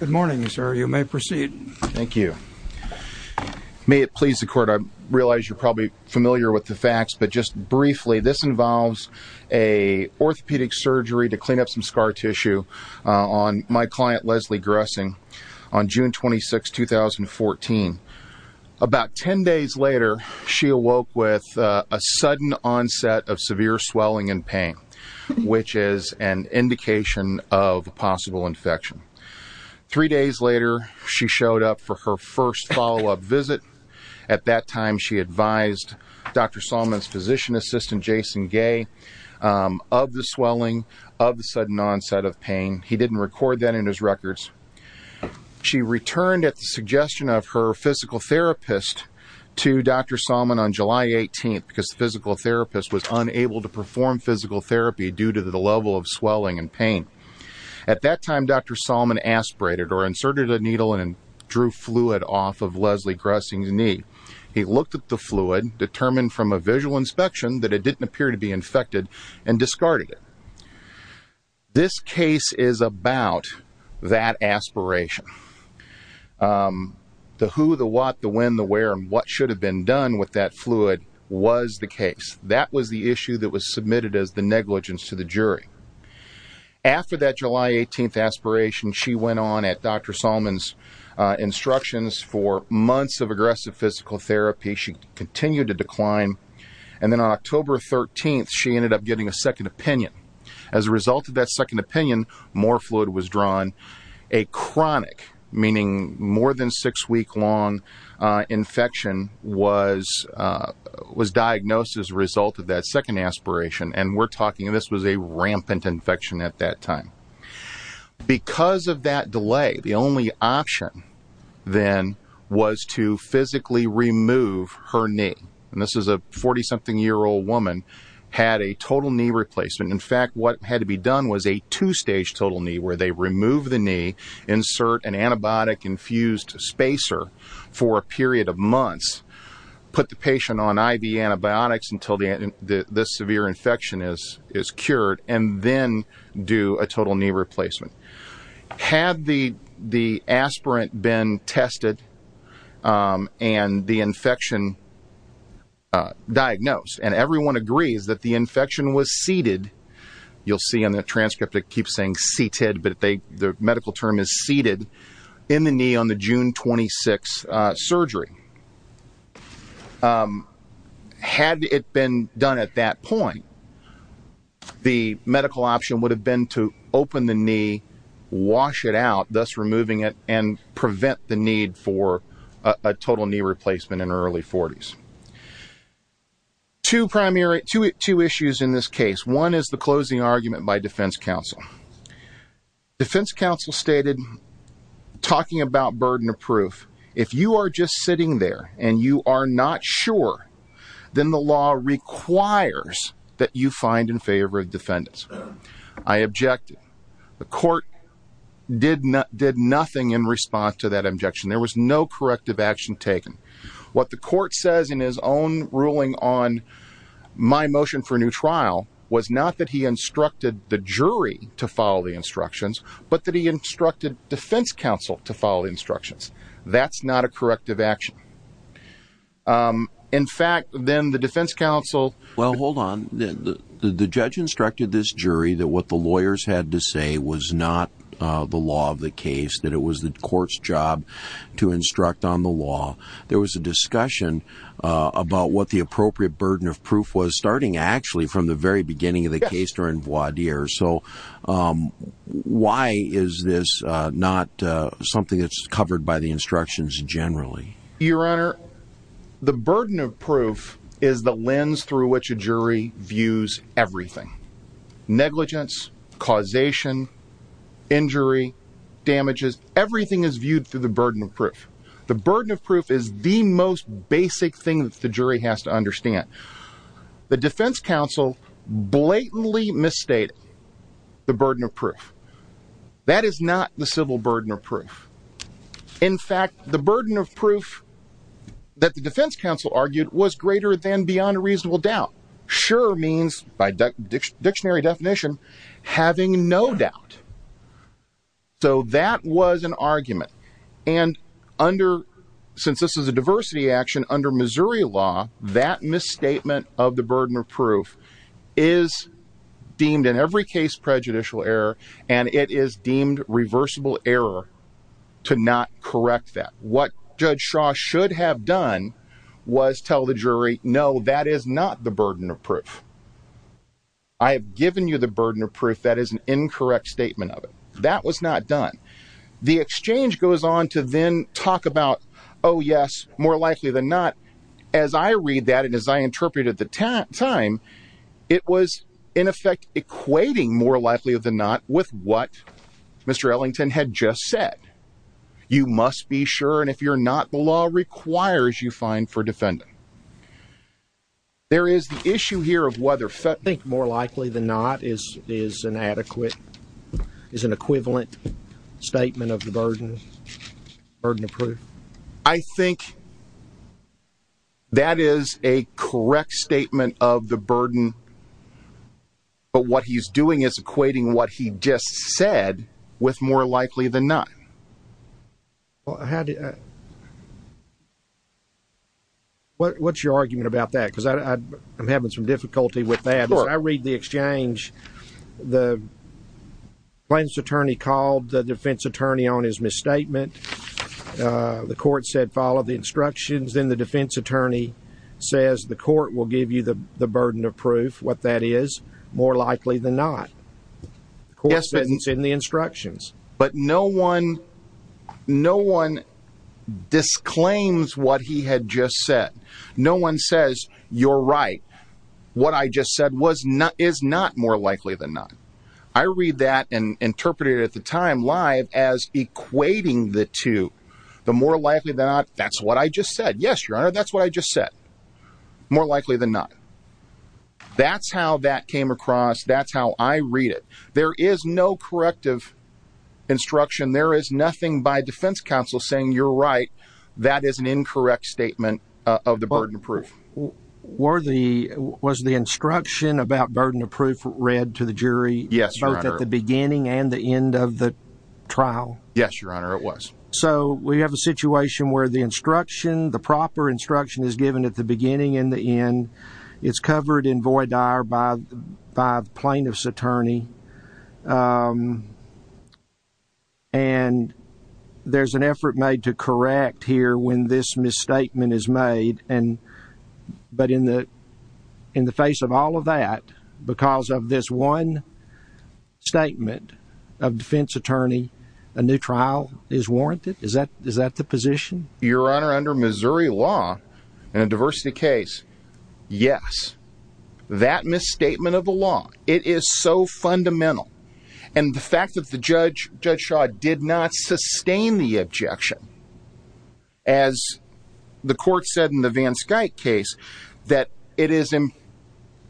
Good morning, sir. You may proceed. Thank you. May it please the court, I realize you're probably familiar with the facts, but just briefly, this involves a orthopedic surgery to clean up some scar tissue on my client, Leslie Grussing, on June 26, 2014. About 10 days later, she awoke with a sudden onset of severe swelling and pain, which is an indication of a possible infection. Three days later, she showed up for her first follow-up visit. At that time, she advised Dr. Salmon's physician assistant, Jason Gay, of the swelling of the sudden onset of pain. He didn't record that in his records. She returned at the suggestion of her physical therapist to Dr. Salmon on July 18, because the physical therapist was unable to perform physical therapy due to the level of swelling and pain. At that time, Dr. Salmon aspirated or inserted a needle and drew fluid off of Leslie Grussing's knee. He looked at the fluid, determined from a visual inspection that it didn't appear to be infected, and discarded it. This case is about that aspiration. The who, the what, the when, the where, and what should have been done with that fluid was the case. That was the issue that was submitted as the negligence to the jury. After that July 18 aspiration, she went on at Dr. Salmon's instructions for months of aggressive physical therapy. She continued to decline, and then on October 13, she ended up getting a second opinion. As a result of that second opinion, more fluid was drawn. A chronic, meaning more than six weeks long, infection was diagnosed as a result of that second aspiration. This was a rampant infection at that time. Because of that delay, the only option then was to physically remove her knee. This is a 40-something-year-old woman who had a total knee replacement. In fact, what had to be done was a two-stage total knee, where they remove the knee, insert an antibiotic-infused spacer for a period of months, put the patient on IV antibiotics until the severe infection is cured, and then do a total knee replacement. Had the aspirant been tested and the infection diagnosed, and everyone agrees that the infection was seated, you'll see on the transcript it keeps seated, but the medical term is seated, in the knee on the June 26 surgery. Had it been done at that point, the medical option would have been to open the knee, wash it out, thus removing it, and prevent the need for a total knee replacement in her early 40s. Two issues in this case. One is the closing argument by defense counsel. Defense counsel stated, talking about burden of proof, if you are just sitting there and you are not sure, then the law requires that you find in favor of defendants. I objected. The court did nothing in response to that objection. There was no corrective action taken. What the court says in his own ruling on my motion for new trial was not that he instructed the jury to follow the instructions, but that he instructed defense counsel to follow instructions. That's not a corrective action. In fact, then the defense counsel... Well, hold on. The judge instructed this jury that what the lawyers had to say was not the law of the case, that it was the court's job to instruct on the law. There was a discussion about what the appropriate burden of proof was, starting actually from the very beginning of the case. Why is this not something that's covered by the instructions generally? Your Honor, the burden of proof is the lens through which a jury views everything. Negligence, causation, injury, damages, everything is viewed through the burden of proof. The burden of proof is the most basic thing that the jury has to understand. The defense counsel blatantly misstated the burden of proof. That is not the civil burden of proof. In fact, the burden of proof that the defense counsel argued was greater than beyond a reasonable doubt. Sure means, by dictionary definition, having no doubt. So that was an incorrect statement of the burden of proof is deemed in every case prejudicial error, and it is deemed reversible error to not correct that. What Judge Shaw should have done was tell the jury, no, that is not the burden of proof. I have given you the burden of proof. That is an incorrect statement of it. That was not done. The exchange goes on to then talk about, oh, yes, more likely than not. As I read that, and as I interpreted the time, it was in effect equating more likely than not with what Mr. Ellington had just said. You must be sure, and if you're not, the law requires you find for defendant. There is the issue here of whether more likely than not is an adequate, is an equivalent statement of the burden of proof. I think that is a correct statement of the burden, but what he's doing is equating what he just said with more likely than not. What's your argument about that? Because I'm having some difficulty with that. I read the exchange. The defense attorney called the defense attorney on his misstatement. The court said, follow the instructions. Then the defense attorney says, the court will give you the burden of proof. What that is, more likely than not. The court says it's in the instructions. But no one disclaims what he had just said. No one says, you're right. What I just said is not more likely than not. I read that and interpreted it at the time live as equating the two. The more likely than not, that's what I just said. Yes, your honor, that's what I just said. More likely than not. That's how that came across. That's how I read it. There is no corrective instruction. There is nothing by defense counsel saying you're right. That is an incorrect statement of the burden of proof. Was the instruction about burden of proof read to the jury? Yes, your honor. Both at the beginning and the end of the trial? Yes, your honor, it was. So we have a situation where the instruction, the proper instruction is given at the beginning and the end. It's covered in void dire by the plaintiff's attorney. And there's an effort made to correct here when this misstatement is made. But in the face of all of that, because of this one statement of defense attorney, a new trial is warranted. Is that the position? Your honor, under Missouri law, in a diversity case, yes. That misstatement of the law, it is so fundamental. And the fact that the judge, Judge Shaw, did not sustain the objection, as the court said in the Van Skyke case, that it is in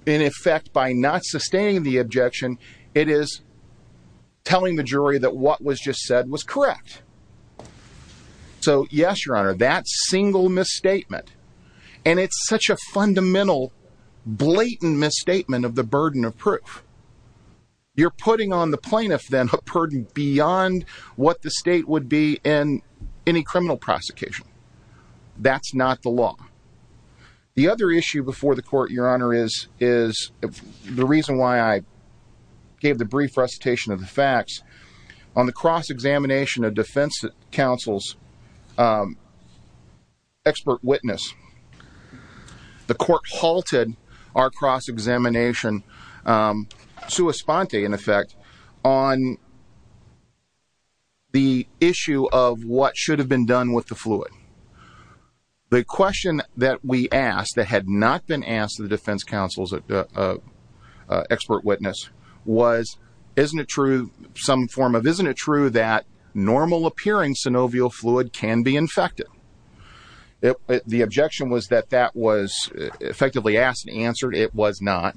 effect by not sustaining the objection, it is telling the jury that what was just said was correct. So yes, your honor, that single misstatement. And it's such a fundamental, blatant misstatement of the burden of proof. You're putting on the plaintiff then a burden beyond what the state would be in any criminal prosecution. That's not the law. The other issue before the court, your honor, is the reason why I gave the brief recitation of the facts on the cross-examination of defense counsel's expert witness. The court halted our cross-examination, sua sponte in effect, on the issue of what should have been done with the fluid. The question that we asked that had not been asked to the defense counsel's expert witness was, isn't it true, some form of, isn't it true that normal appearing synovial fluid can be infected? The objection was that that was effectively asked and answered. It was not.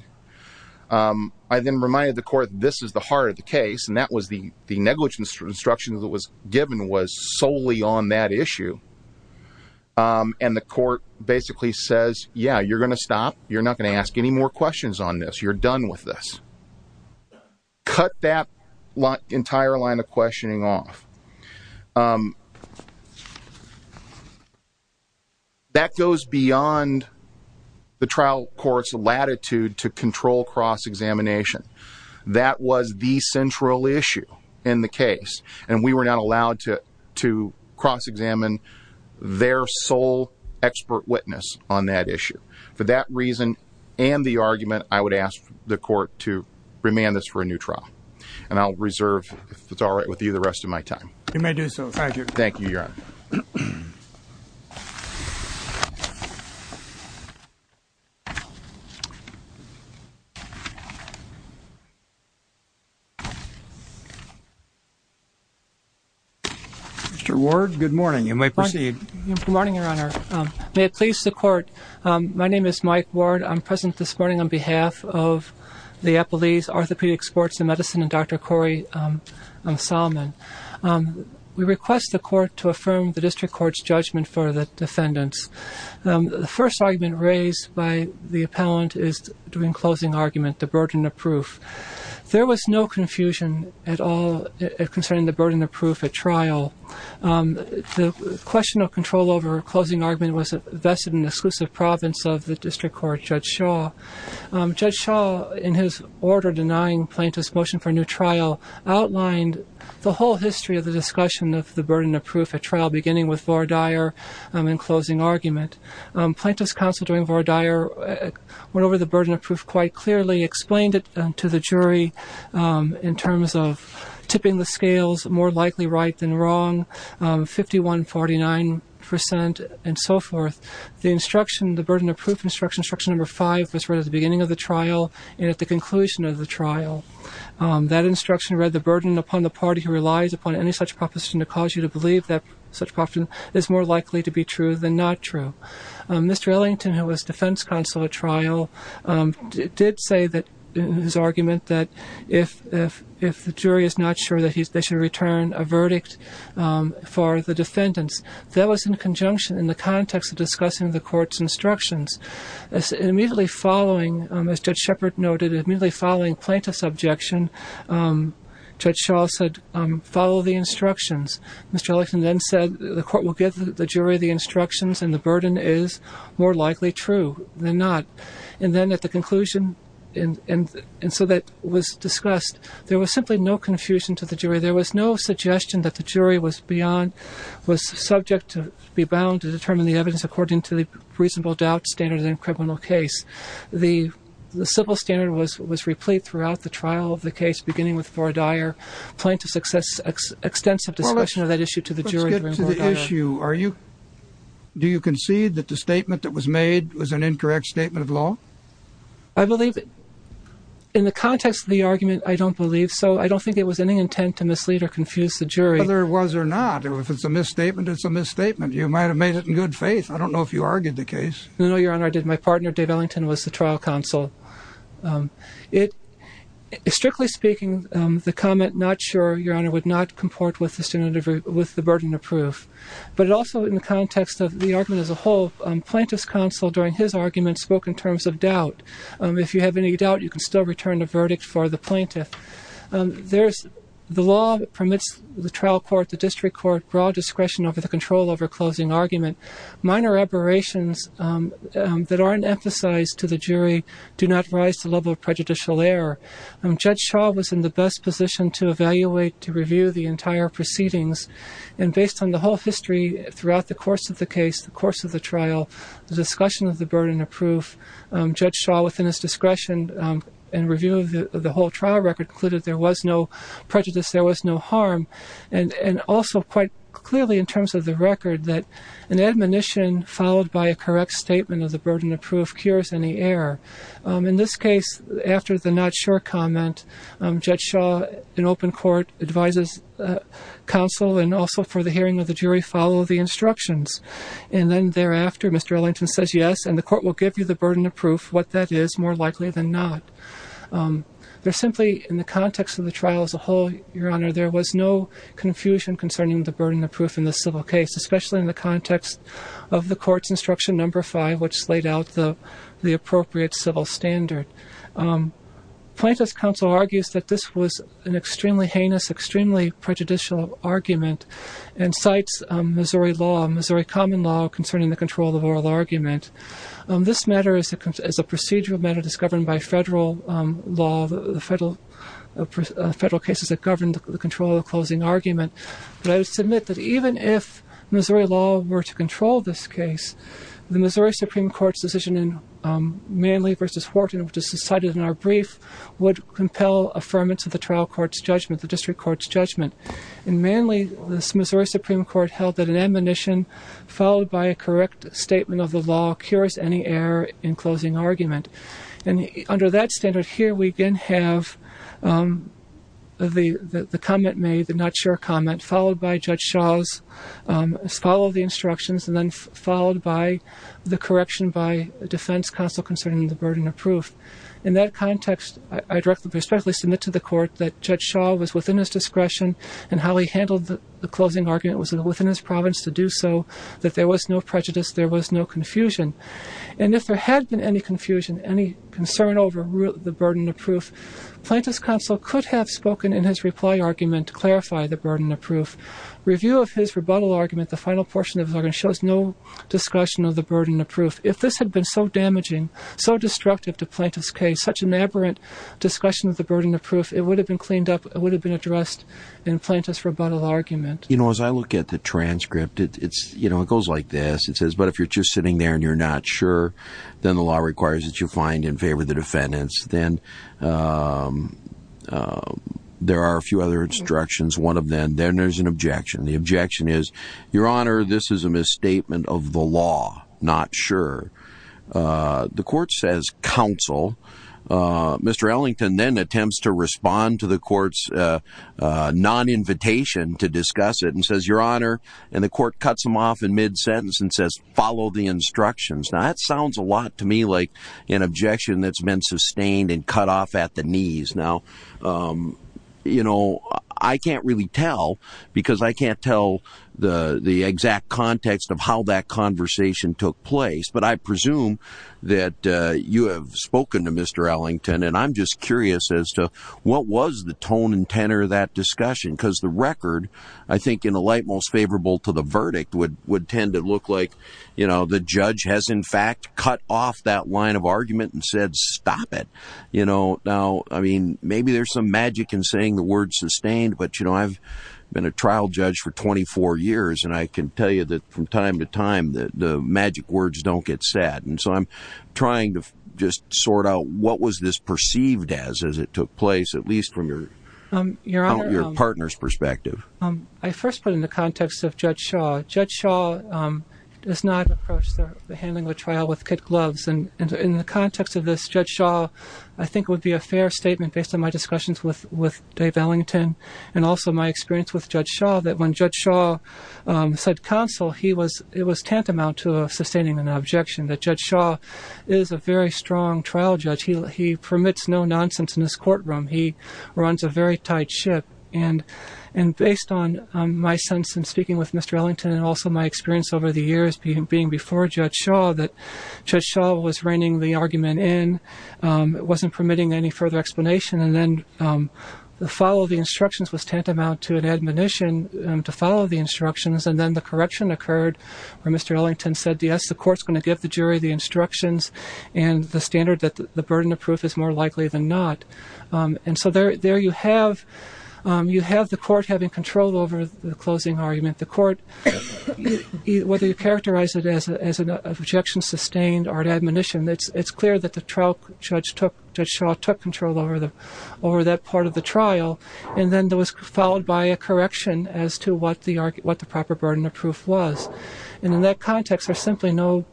I then reminded the court, this is the heart of the case. And that was the negligence instruction that was given was solely on that issue. And the court basically says, yeah, you're going to stop. You're not going to ask any more questions on this. You're done with this. Cut that entire line of questioning off. That goes beyond the trial court's latitude to control cross-examination. That was the central issue in the case. And we were not allowed to cross-examine their sole expert witness on that reason. And the argument, I would ask the court to remand this for a new trial. And I'll reserve, if it's all right with you, the rest of my time. You may do so. Thank you. Thank you, Your Honor. Mr. Ward, good morning. You may proceed. Good morning, Your Honor. May it please the court. My name is Mike Ward. I'm present this morning on behalf of the Appellee's Orthopedic Sports and Medicine and Dr. Corey Salmon. We request the court to affirm the district court's judgment for the defendants. The first argument raised by the appellant is during closing argument, the burden of proof. There was no confusion at all concerning the burden of proof at trial. The question of control over closing argument was vested in the exclusive province of the district court, Judge Shaw. Judge Shaw, in his order denying plaintiff's motion for a new trial, outlined the whole history of the discussion of the burden of proof at trial, beginning with Vordaer in closing argument. Plaintiff's counsel during Vordaer went over the burden of proof quite explained it to the jury in terms of tipping the scales, more likely right than wrong, 51-49 percent and so forth. The instruction, the burden of proof instruction, instruction number five was read at the beginning of the trial and at the conclusion of the trial. That instruction read, the burden upon the party who relies upon any such proposition to cause you to believe that such proposition is more likely to be true than not true. Mr. Ellington, who was defense counsel at trial, did say that, in his argument, that if the jury is not sure that they should return a verdict for the defendants, that was in conjunction in the context of discussing the court's instructions. Immediately following, as Judge Shepard noted, immediately following plaintiff's objection, Judge Shaw said, follow the instructions. Mr. Ellington then said, the court will give the jury the instructions and the burden is more likely true than not. And then at the conclusion, and so that was discussed, there was simply no confusion to the jury. There was no suggestion that the jury was beyond, was subject to be bound to determine the evidence according to the reasonable doubt standard in a criminal case. The civil standard was replete throughout the trial of the case, beginning with Vordaer. Plaintiff's extensive discussion of that issue to the jury during Vordaer. Let's get to the issue. Do you concede that the statement that was made was an incorrect statement of law? I believe, in the context of the argument, I don't believe so. I don't think it was any intent to mislead or confuse the jury. Whether it was or not, if it's a misstatement, it's a misstatement. You might have made it in good faith. I don't know if you argued the case. No, Your Honor, I did. My partner, Dave Ellington, was the trial counsel. Strictly speaking, the comment, not sure, Your Honor, would not comport with the burden of proof. But also in the context of the argument as a whole, plaintiff's counsel, during his argument, spoke in terms of doubt. If you have any doubt, you can still return a verdict for the plaintiff. The law permits the trial court, the district court, broad discretion over the control over closing argument. Minor aberrations that aren't emphasized to the jury do not rise to the level of prejudicial error. Judge Shaw was in the best to evaluate, to review the entire proceedings. And based on the whole history throughout the course of the case, the course of the trial, the discussion of the burden of proof, Judge Shaw, within his discretion and review of the whole trial record, concluded there was no prejudice, there was no harm. And also, quite clearly in terms of the record, that an admonition followed by a correct statement of the burden of proof cures any error. In this case, after the not sure comment, Judge Shaw, in open court, advises counsel, and also for the hearing of the jury, follow the instructions. And then thereafter, Mr. Ellington says yes, and the court will give you the burden of proof, what that is, more likely than not. There simply, in the context of the trial as a whole, your honor, there was no confusion concerning the burden of proof in the civil case, especially in the context of the court's instruction number five, which laid out the appropriate civil standard. Plaintiff's counsel argues that this was an extremely heinous, extremely prejudicial argument, and cites Missouri law, Missouri common law, concerning the control of oral argument. This matter, as a procedural matter, is governed by federal law, the federal cases that govern the control of the closing argument. But I would if Missouri law were to control this case, the Missouri Supreme Court's decision in Manley versus Wharton, which is cited in our brief, would compel affirmance of the trial court's judgment, the district court's judgment. In Manley, the Missouri Supreme Court held that an admonition followed by a correct statement of the law cures any error in closing argument. And under that standard here, we again have the comment made, the not sure comment, followed by Judge Shaw's follow the instructions, and then followed by the correction by defense counsel concerning the burden of proof. In that context, I directly, respectfully submit to the court that Judge Shaw was within his discretion, and how he handled the closing argument was within his province to do so, that there was no prejudice, there was no confusion. And if there had been any confusion, any concern over the burden of proof, plaintiff's counsel could have spoken in his reply argument to clarify the burden of proof. Review of his rebuttal argument, the final portion of it shows no discussion of the burden of proof. If this had been so damaging, so destructive to plaintiff's case, such an aberrant discussion of the burden of proof, it would have been cleaned up, it would have been addressed in plaintiff's rebuttal argument. You know, as I look at the transcript, it's, you know, it goes like this. It says, but if you're just sitting there and you're not sure, then the law requires that you find in favor of the defendants. Then there are a few other instructions, one of them, then there's an objection. The objection is, your honor, this is a misstatement of the law, not sure. The court says, counsel. Mr. Ellington then attempts to respond to the court's non-invitation to discuss it, and says, your honor, and the court cuts him off in mid-sentence and says, follow the instructions. Now that sounds a like an objection that's been sustained and cut off at the knees. Now, you know, I can't really tell because I can't tell the exact context of how that conversation took place, but I presume that you have spoken to Mr. Ellington, and I'm just curious as to what was the tone and tenor of that discussion? Because the record, I think, in the light most favorable to the verdict would tend to look like, you know, the judge has, in fact, cut off that line of argument and said, stop it. You know, now, I mean, maybe there's some magic in saying the word sustained, but, you know, I've been a trial judge for 24 years, and I can tell you that from time to time that the magic words don't get said. And so I'm trying to just sort out what was this perceived as, as it took place, at least from your partner's perspective. Your honor, I first put in the does not approach the handling of the trial with kid gloves. And in the context of this, Judge Shaw, I think would be a fair statement based on my discussions with Dave Ellington, and also my experience with Judge Shaw, that when Judge Shaw said counsel, he was, it was tantamount to sustaining an objection that Judge Shaw is a very strong trial judge. He permits no nonsense in his courtroom. He runs a very tight ship. And based on my sense in speaking with Mr. Ellington, and also my experience over the years being before Judge Shaw, that Judge Shaw was reining the argument in. It wasn't permitting any further explanation. And then the follow of the instructions was tantamount to an admonition to follow the instructions. And then the correction occurred where Mr. Ellington said, yes, the court's going to give the jury the instructions and the standard that the burden of proof is more likely than not. And so there you have, you have the court having control over the closing argument. The court, whether you characterize it as an objection sustained or an admonition, it's clear that the trial Judge took, Judge Shaw took control over the, over that part of the trial. And then there was followed by a correction as to what the, what the proper burden of proof was. And in that context, there's simply no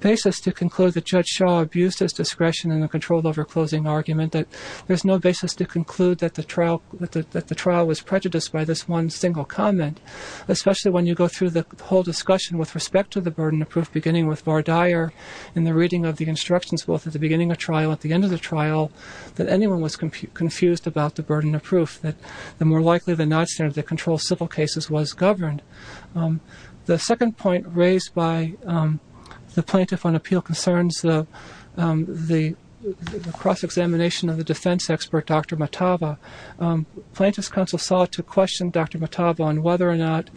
basis to conclude that Judge Shaw abused his discretion in the control over closing argument, that there's no basis to conclude that the trial, that the trial was prejudiced by this one single comment, especially when you go through the whole discussion with respect to the burden of proof, beginning with Vardyar in the reading of the instructions, both at the beginning of trial, at the end of the trial, that anyone was confused about the burden of proof, that the more likely than not standard that controls civil cases was the cross-examination of the defense expert, Dr. Matava. Plaintiff's counsel sought to question Dr. Matava on whether or not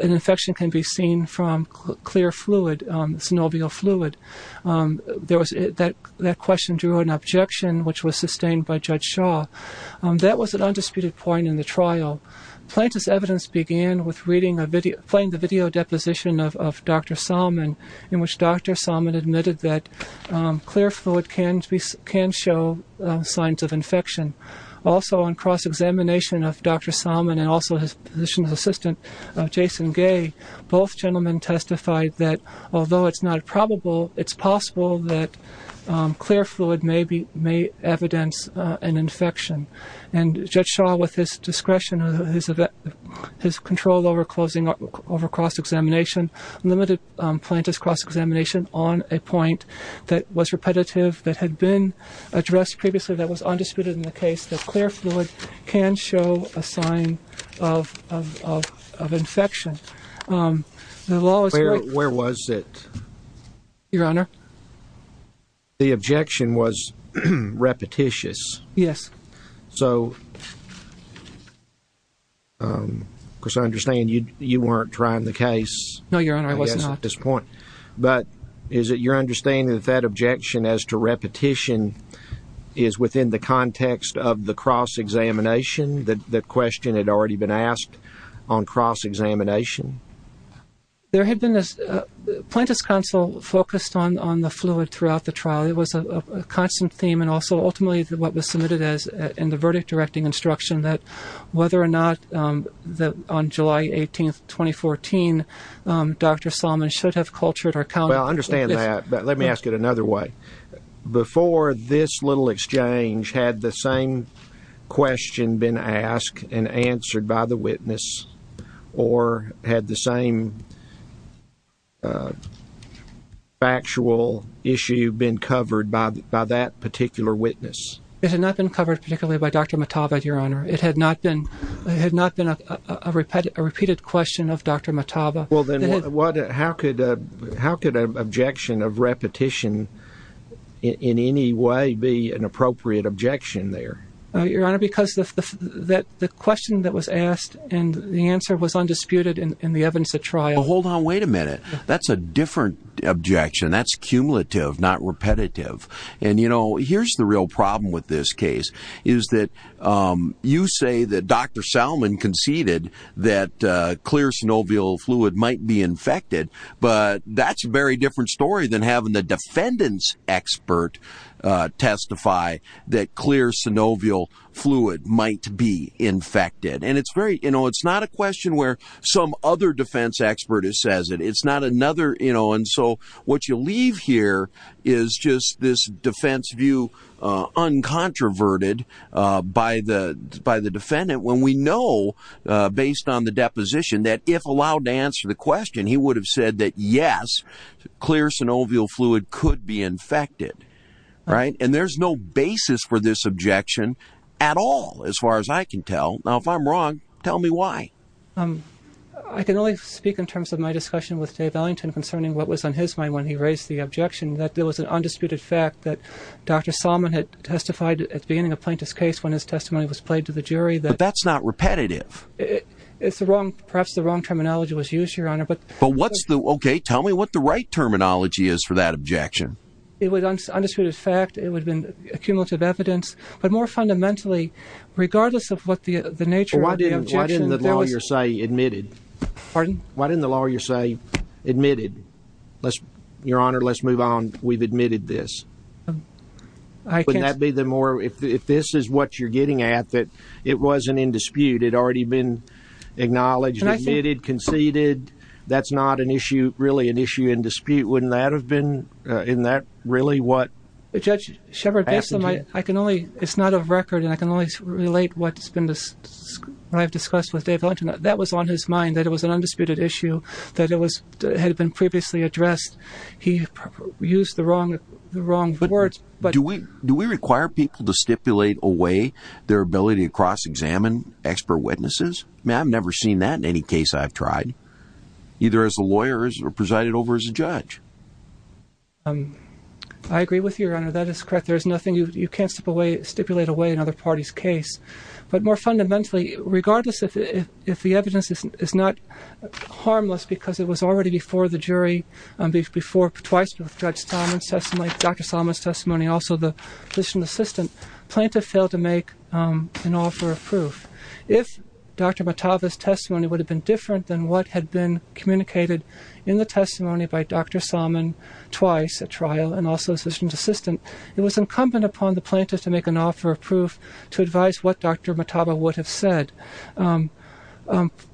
an infection can be seen from clear fluid, synovial fluid. That question drew an objection, which was sustained by Judge Shaw. That was an undisputed point in the trial. Plaintiff's reading, playing the video deposition of Dr. Salmon, in which Dr. Salmon admitted that clear fluid can show signs of infection. Also on cross-examination of Dr. Salmon and also his position as assistant, Jason Gay, both gentlemen testified that although it's not probable, it's possible that clear fluid may evidence an infection. And Judge Shaw, with his discretion, his control over cross-examination, limited Plaintiff's cross-examination on a point that was repetitive, that had been addressed previously, that was undisputed in the case, that clear fluid can show a sign of infection. Where was it? Your Honor? The objection was repetitious. Yes. So, of course, I understand you weren't trying the case. No, Your Honor, I was not. At this point. But is it your understanding that that objection as to repetition is within the context of the cross-examination, that the question had already been asked on cross-examination? There had been this Plaintiff's counsel focused on the fluid throughout the trial. It was a constant theme and also ultimately what was submitted as in the verdict directing instruction that whether or not that on July 18th, 2014, Dr. Salmon should have cultured or counted. Well, I understand that, but let me ask it another way. Before this little exchange, had the same question been asked and answered by the witness or had the same factual issue been covered by that particular witness? It had not been covered particularly by Dr. Mataba, Your Honor. It had not been a repeated question of Dr. Mataba. Well, then how could an objection of repetition in any way be an appropriate objection there? Your Honor, because the question that was asked and the answer was undisputed in the evidence at trial. Hold on, wait a minute. That's a different objection. That's cumulative, not repetitive. And you know, here's the real problem with this case is that you say that Dr. Salmon conceded that clear synovial fluid might be infected, but that's a very different story than having the defendant's expert testify that clear synovial fluid might be infected. And it's very, you know, it's not a question where some other defense expert has said it. It's not another, you know, and so what you leave here is just this defense view uncontroverted by the defendant when we know based on the deposition that if allowed to answer the question, he would have said that yes, clear synovial fluid could be infected, right? And there's no basis for this objection at all, as far as I can tell. Now, if I'm wrong, tell me why. I can only speak in terms of my discussion with Dave Ellington concerning what was on his mind when he raised the objection that there was an undisputed fact that Dr. Salmon had testified at the beginning of Plaintiff's case when his testimony was played to the jury. But that's not repetitive. It's the wrong, perhaps the wrong terminology was used, Your Honor. But what's the, okay, tell me what the right terminology is for that objection. It was undisputed fact. It would have been accumulative evidence, but more fundamentally, regardless of what the nature of the objection, there was... Why didn't the lawyer say admitted? Pardon? Why didn't the lawyer say admitted? Let's, Your Honor, let's move on. We've admitted this. I can't... Wouldn't that be the more... If this is what you're getting at, that it wasn't in dispute, it had already been acknowledged, admitted, conceded. That's not an issue, really an issue in dispute. Wouldn't that have been... Isn't that really what happened here? Judge Shepard, based on my... I can only... It's not a record, and I can only relate what's been this... What I've discussed with Dave Ellington. That was on his mind, that it was an undisputed issue, that it was... Had been previously addressed. He used the wrong, the wrong words, but... Do we... Do we require people to stipulate away their ability to cross-examine expert witnesses? I mean, I've never seen that in any case I've tried, either as a lawyer or presided over as a judge. I agree with you, Your Honor. That is correct. There is nothing... You can't stipulate away another party's case, but more fundamentally, regardless if the evidence is not harmless, because it was already before the jury, before, twice before Judge Solomon testimony, Dr. Solomon's testimony, also the physician's assistant, plaintiff failed to make an offer of proof. If Dr. Mataba's testimony would have been different than what had been communicated in the testimony by Dr. Solomon twice at trial, and also the physician's assistant, it was incumbent upon the plaintiff to make an offer of proof to advise what Dr. Mataba would have said.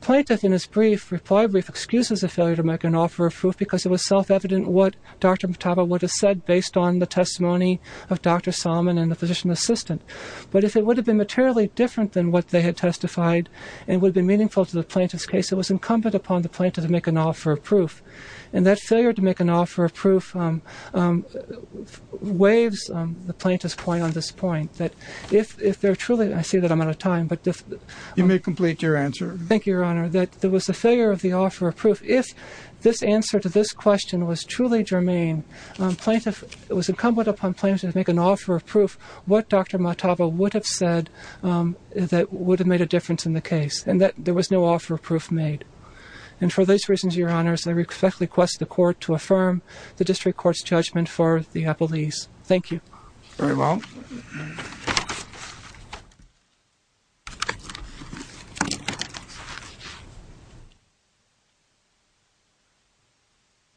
Plaintiff, in his brief, reply brief, excuses the failure to make an offer of proof because it was self-evident what Dr. Mataba would have said based on the testimony of Dr. Solomon and the physician's assistant. But if it would have been materially different than what they had testified and would have been meaningful to the plaintiff's case, it was incumbent upon the plaintiff to make an offer of proof. And that failure to make an offer of proof waves the plaintiff's point on this point, that if they're truly... I see that I'm out of time, but if... You may complete your brief. If this answer to this question was truly germane, it was incumbent upon plaintiff to make an offer of proof what Dr. Mataba would have said that would have made a difference in the case, and that there was no offer of proof made. And for those reasons, Your Honors, I respectfully request the court to affirm the district court's judgment for the appellees. Thank you. Very well.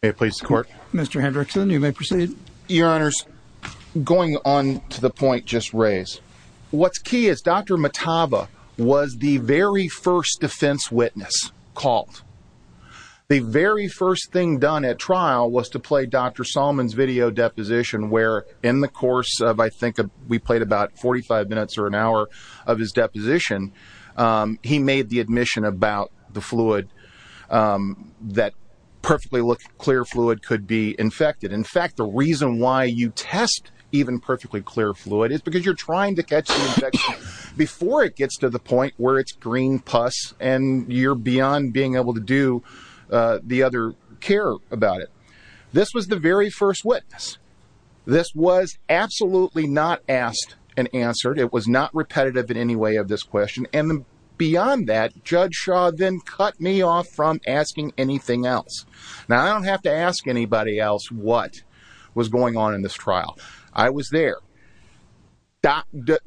May it please the court. Mr. Hendrickson, you may proceed. Your Honors, going on to the point just raised, what's key is Dr. Mataba was the very first defense witness called. The very first thing done at trial was to play Dr. Solomon's video deposition, where in the course of, I think we played about 45 minutes or an hour of his deposition, he made the admission about the fluid that perfectly clear fluid could be infected. In fact, the reason why you test even perfectly clear fluid is because you're trying to catch the infection before it gets to the point where it's green pus and you're beyond being able to do the other care about it. This was the very first witness. This was absolutely not asked and answered. It was not repetitive in any way of this question. And beyond that, Judge Shaw then cut me off from asking anything else. Now, I don't have to ask anybody else what was going on in this trial. I was there.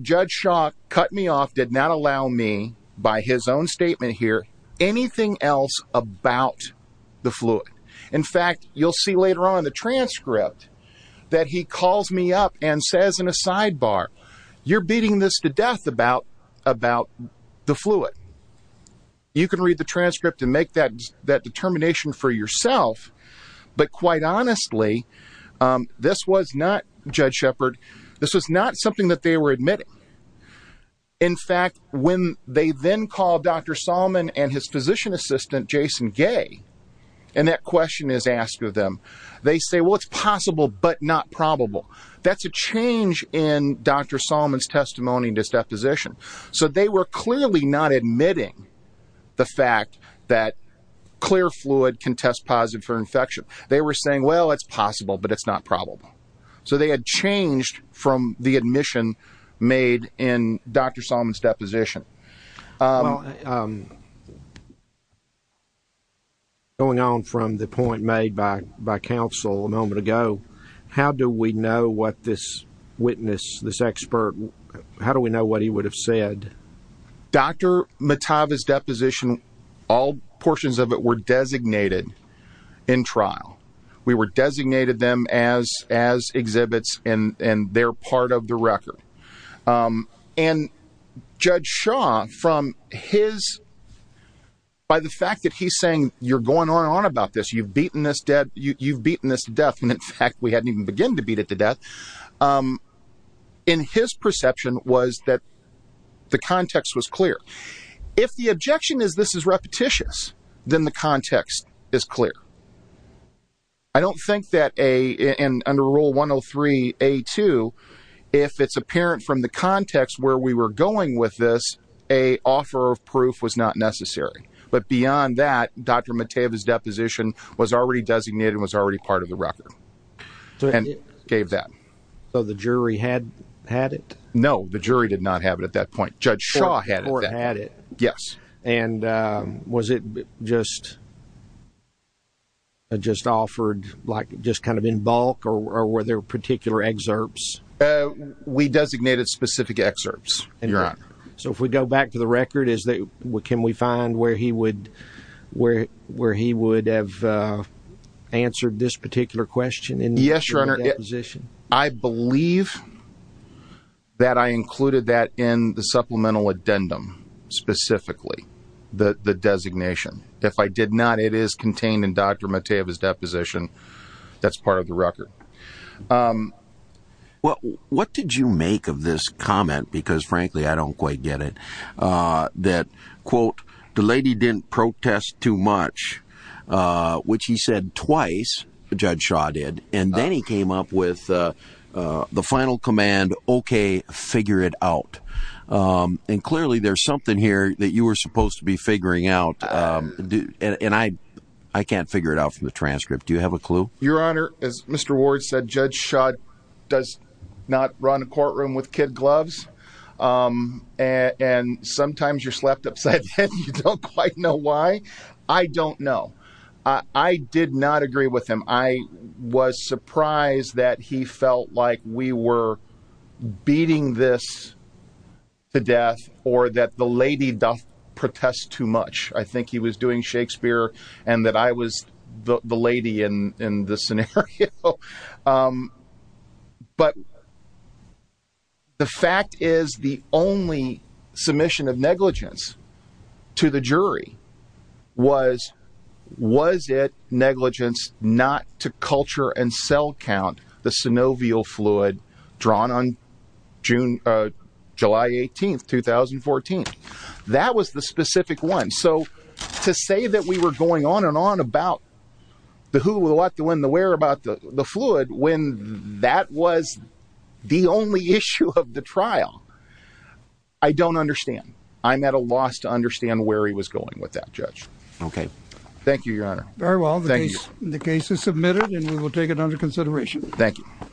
Judge Shaw cut me off, did not allow me by his own statement here, anything else about the fluid. In fact, you'll see later on the transcript that he calls me up and says in a sidebar, you're beating this to death about the fluid. You can read the transcript and make that determination for yourself. But quite honestly, this was not, Judge Shepard, this was not something that they were admitting. In fact, when they then called Dr. Salmon and his physician assistant, Jason Gay, and that question is asked of them, they say, well, it's possible, but not probable. That's a change in Dr. Salmon's testimony in this deposition. So they were clearly not admitting the fact that clear fluid can test positive for infection. They were saying, well, it's possible, but it's not probable. So they had changed from the admission made in Dr. Salmon's deposition. Going on from the point made by counsel a moment ago, how do we know what this witness, this expert, how do we know what he would have said? Dr. Matava's deposition, all portions of it were and they're part of the record. And Judge Shaw, from his, by the fact that he's saying you're going on and on about this, you've beaten this to death. And in fact, we hadn't even begun to beat it to death. And his perception was that the context was clear. If the objection is this is repetitious, then the context is clear. I don't think that a, in under rule 103 A2, if it's apparent from the context where we were going with this, a offer of proof was not necessary. But beyond that, Dr. Matava's deposition was already designated and was already part of the record and gave that. So the jury had had it? No, the jury did not have it at that point. Judge Shaw had it. Yes. And was it just, just offered like just kind of in bulk or were there particular excerpts? We designated specific excerpts, Your Honor. So if we go back to the record, is that, can we find where he would, where, where he would have answered this particular question? Yes, I believe that I included that in the supplemental addendum specifically, the, the designation. If I did not, it is contained in Dr. Matava's deposition. That's part of the record. What, what did you make of this comment? Because frankly, I don't quite get it. Uh, that quote, the lady didn't protest too much, uh, which he said twice, Judge Shaw did. And then he came up with, uh, uh, the final command, okay, figure it out. Um, and clearly there's something here that you were supposed to be figuring out. Um, and I, I can't figure it out from the transcript. Do you have a clue? Your Honor, as Mr. Ward said, Judge Shaw does not run a courtroom with kid gloves. Um, and, and sometimes you're slept and you don't quite know why. I don't know. I did not agree with him. I was surprised that he felt like we were beating this to death or that the lady doth protest too much. I think he was doing Shakespeare and that I was the lady in, in the scenario. Um, but the fact is the only submission of negligence to the jury was, was it negligence not to culture and cell count the synovial fluid drawn on June, uh, July 18th, 2014. That was the specific one. So to say that we were going on and on about the who, the what, the when, the where about the fluid, when that was the only issue of the trial. I don't understand. I'm at a loss to understand where he was going with that judge. Okay. Thank you, Your Honor. Very well. The case is submitted and we will take it under consideration. Thank you.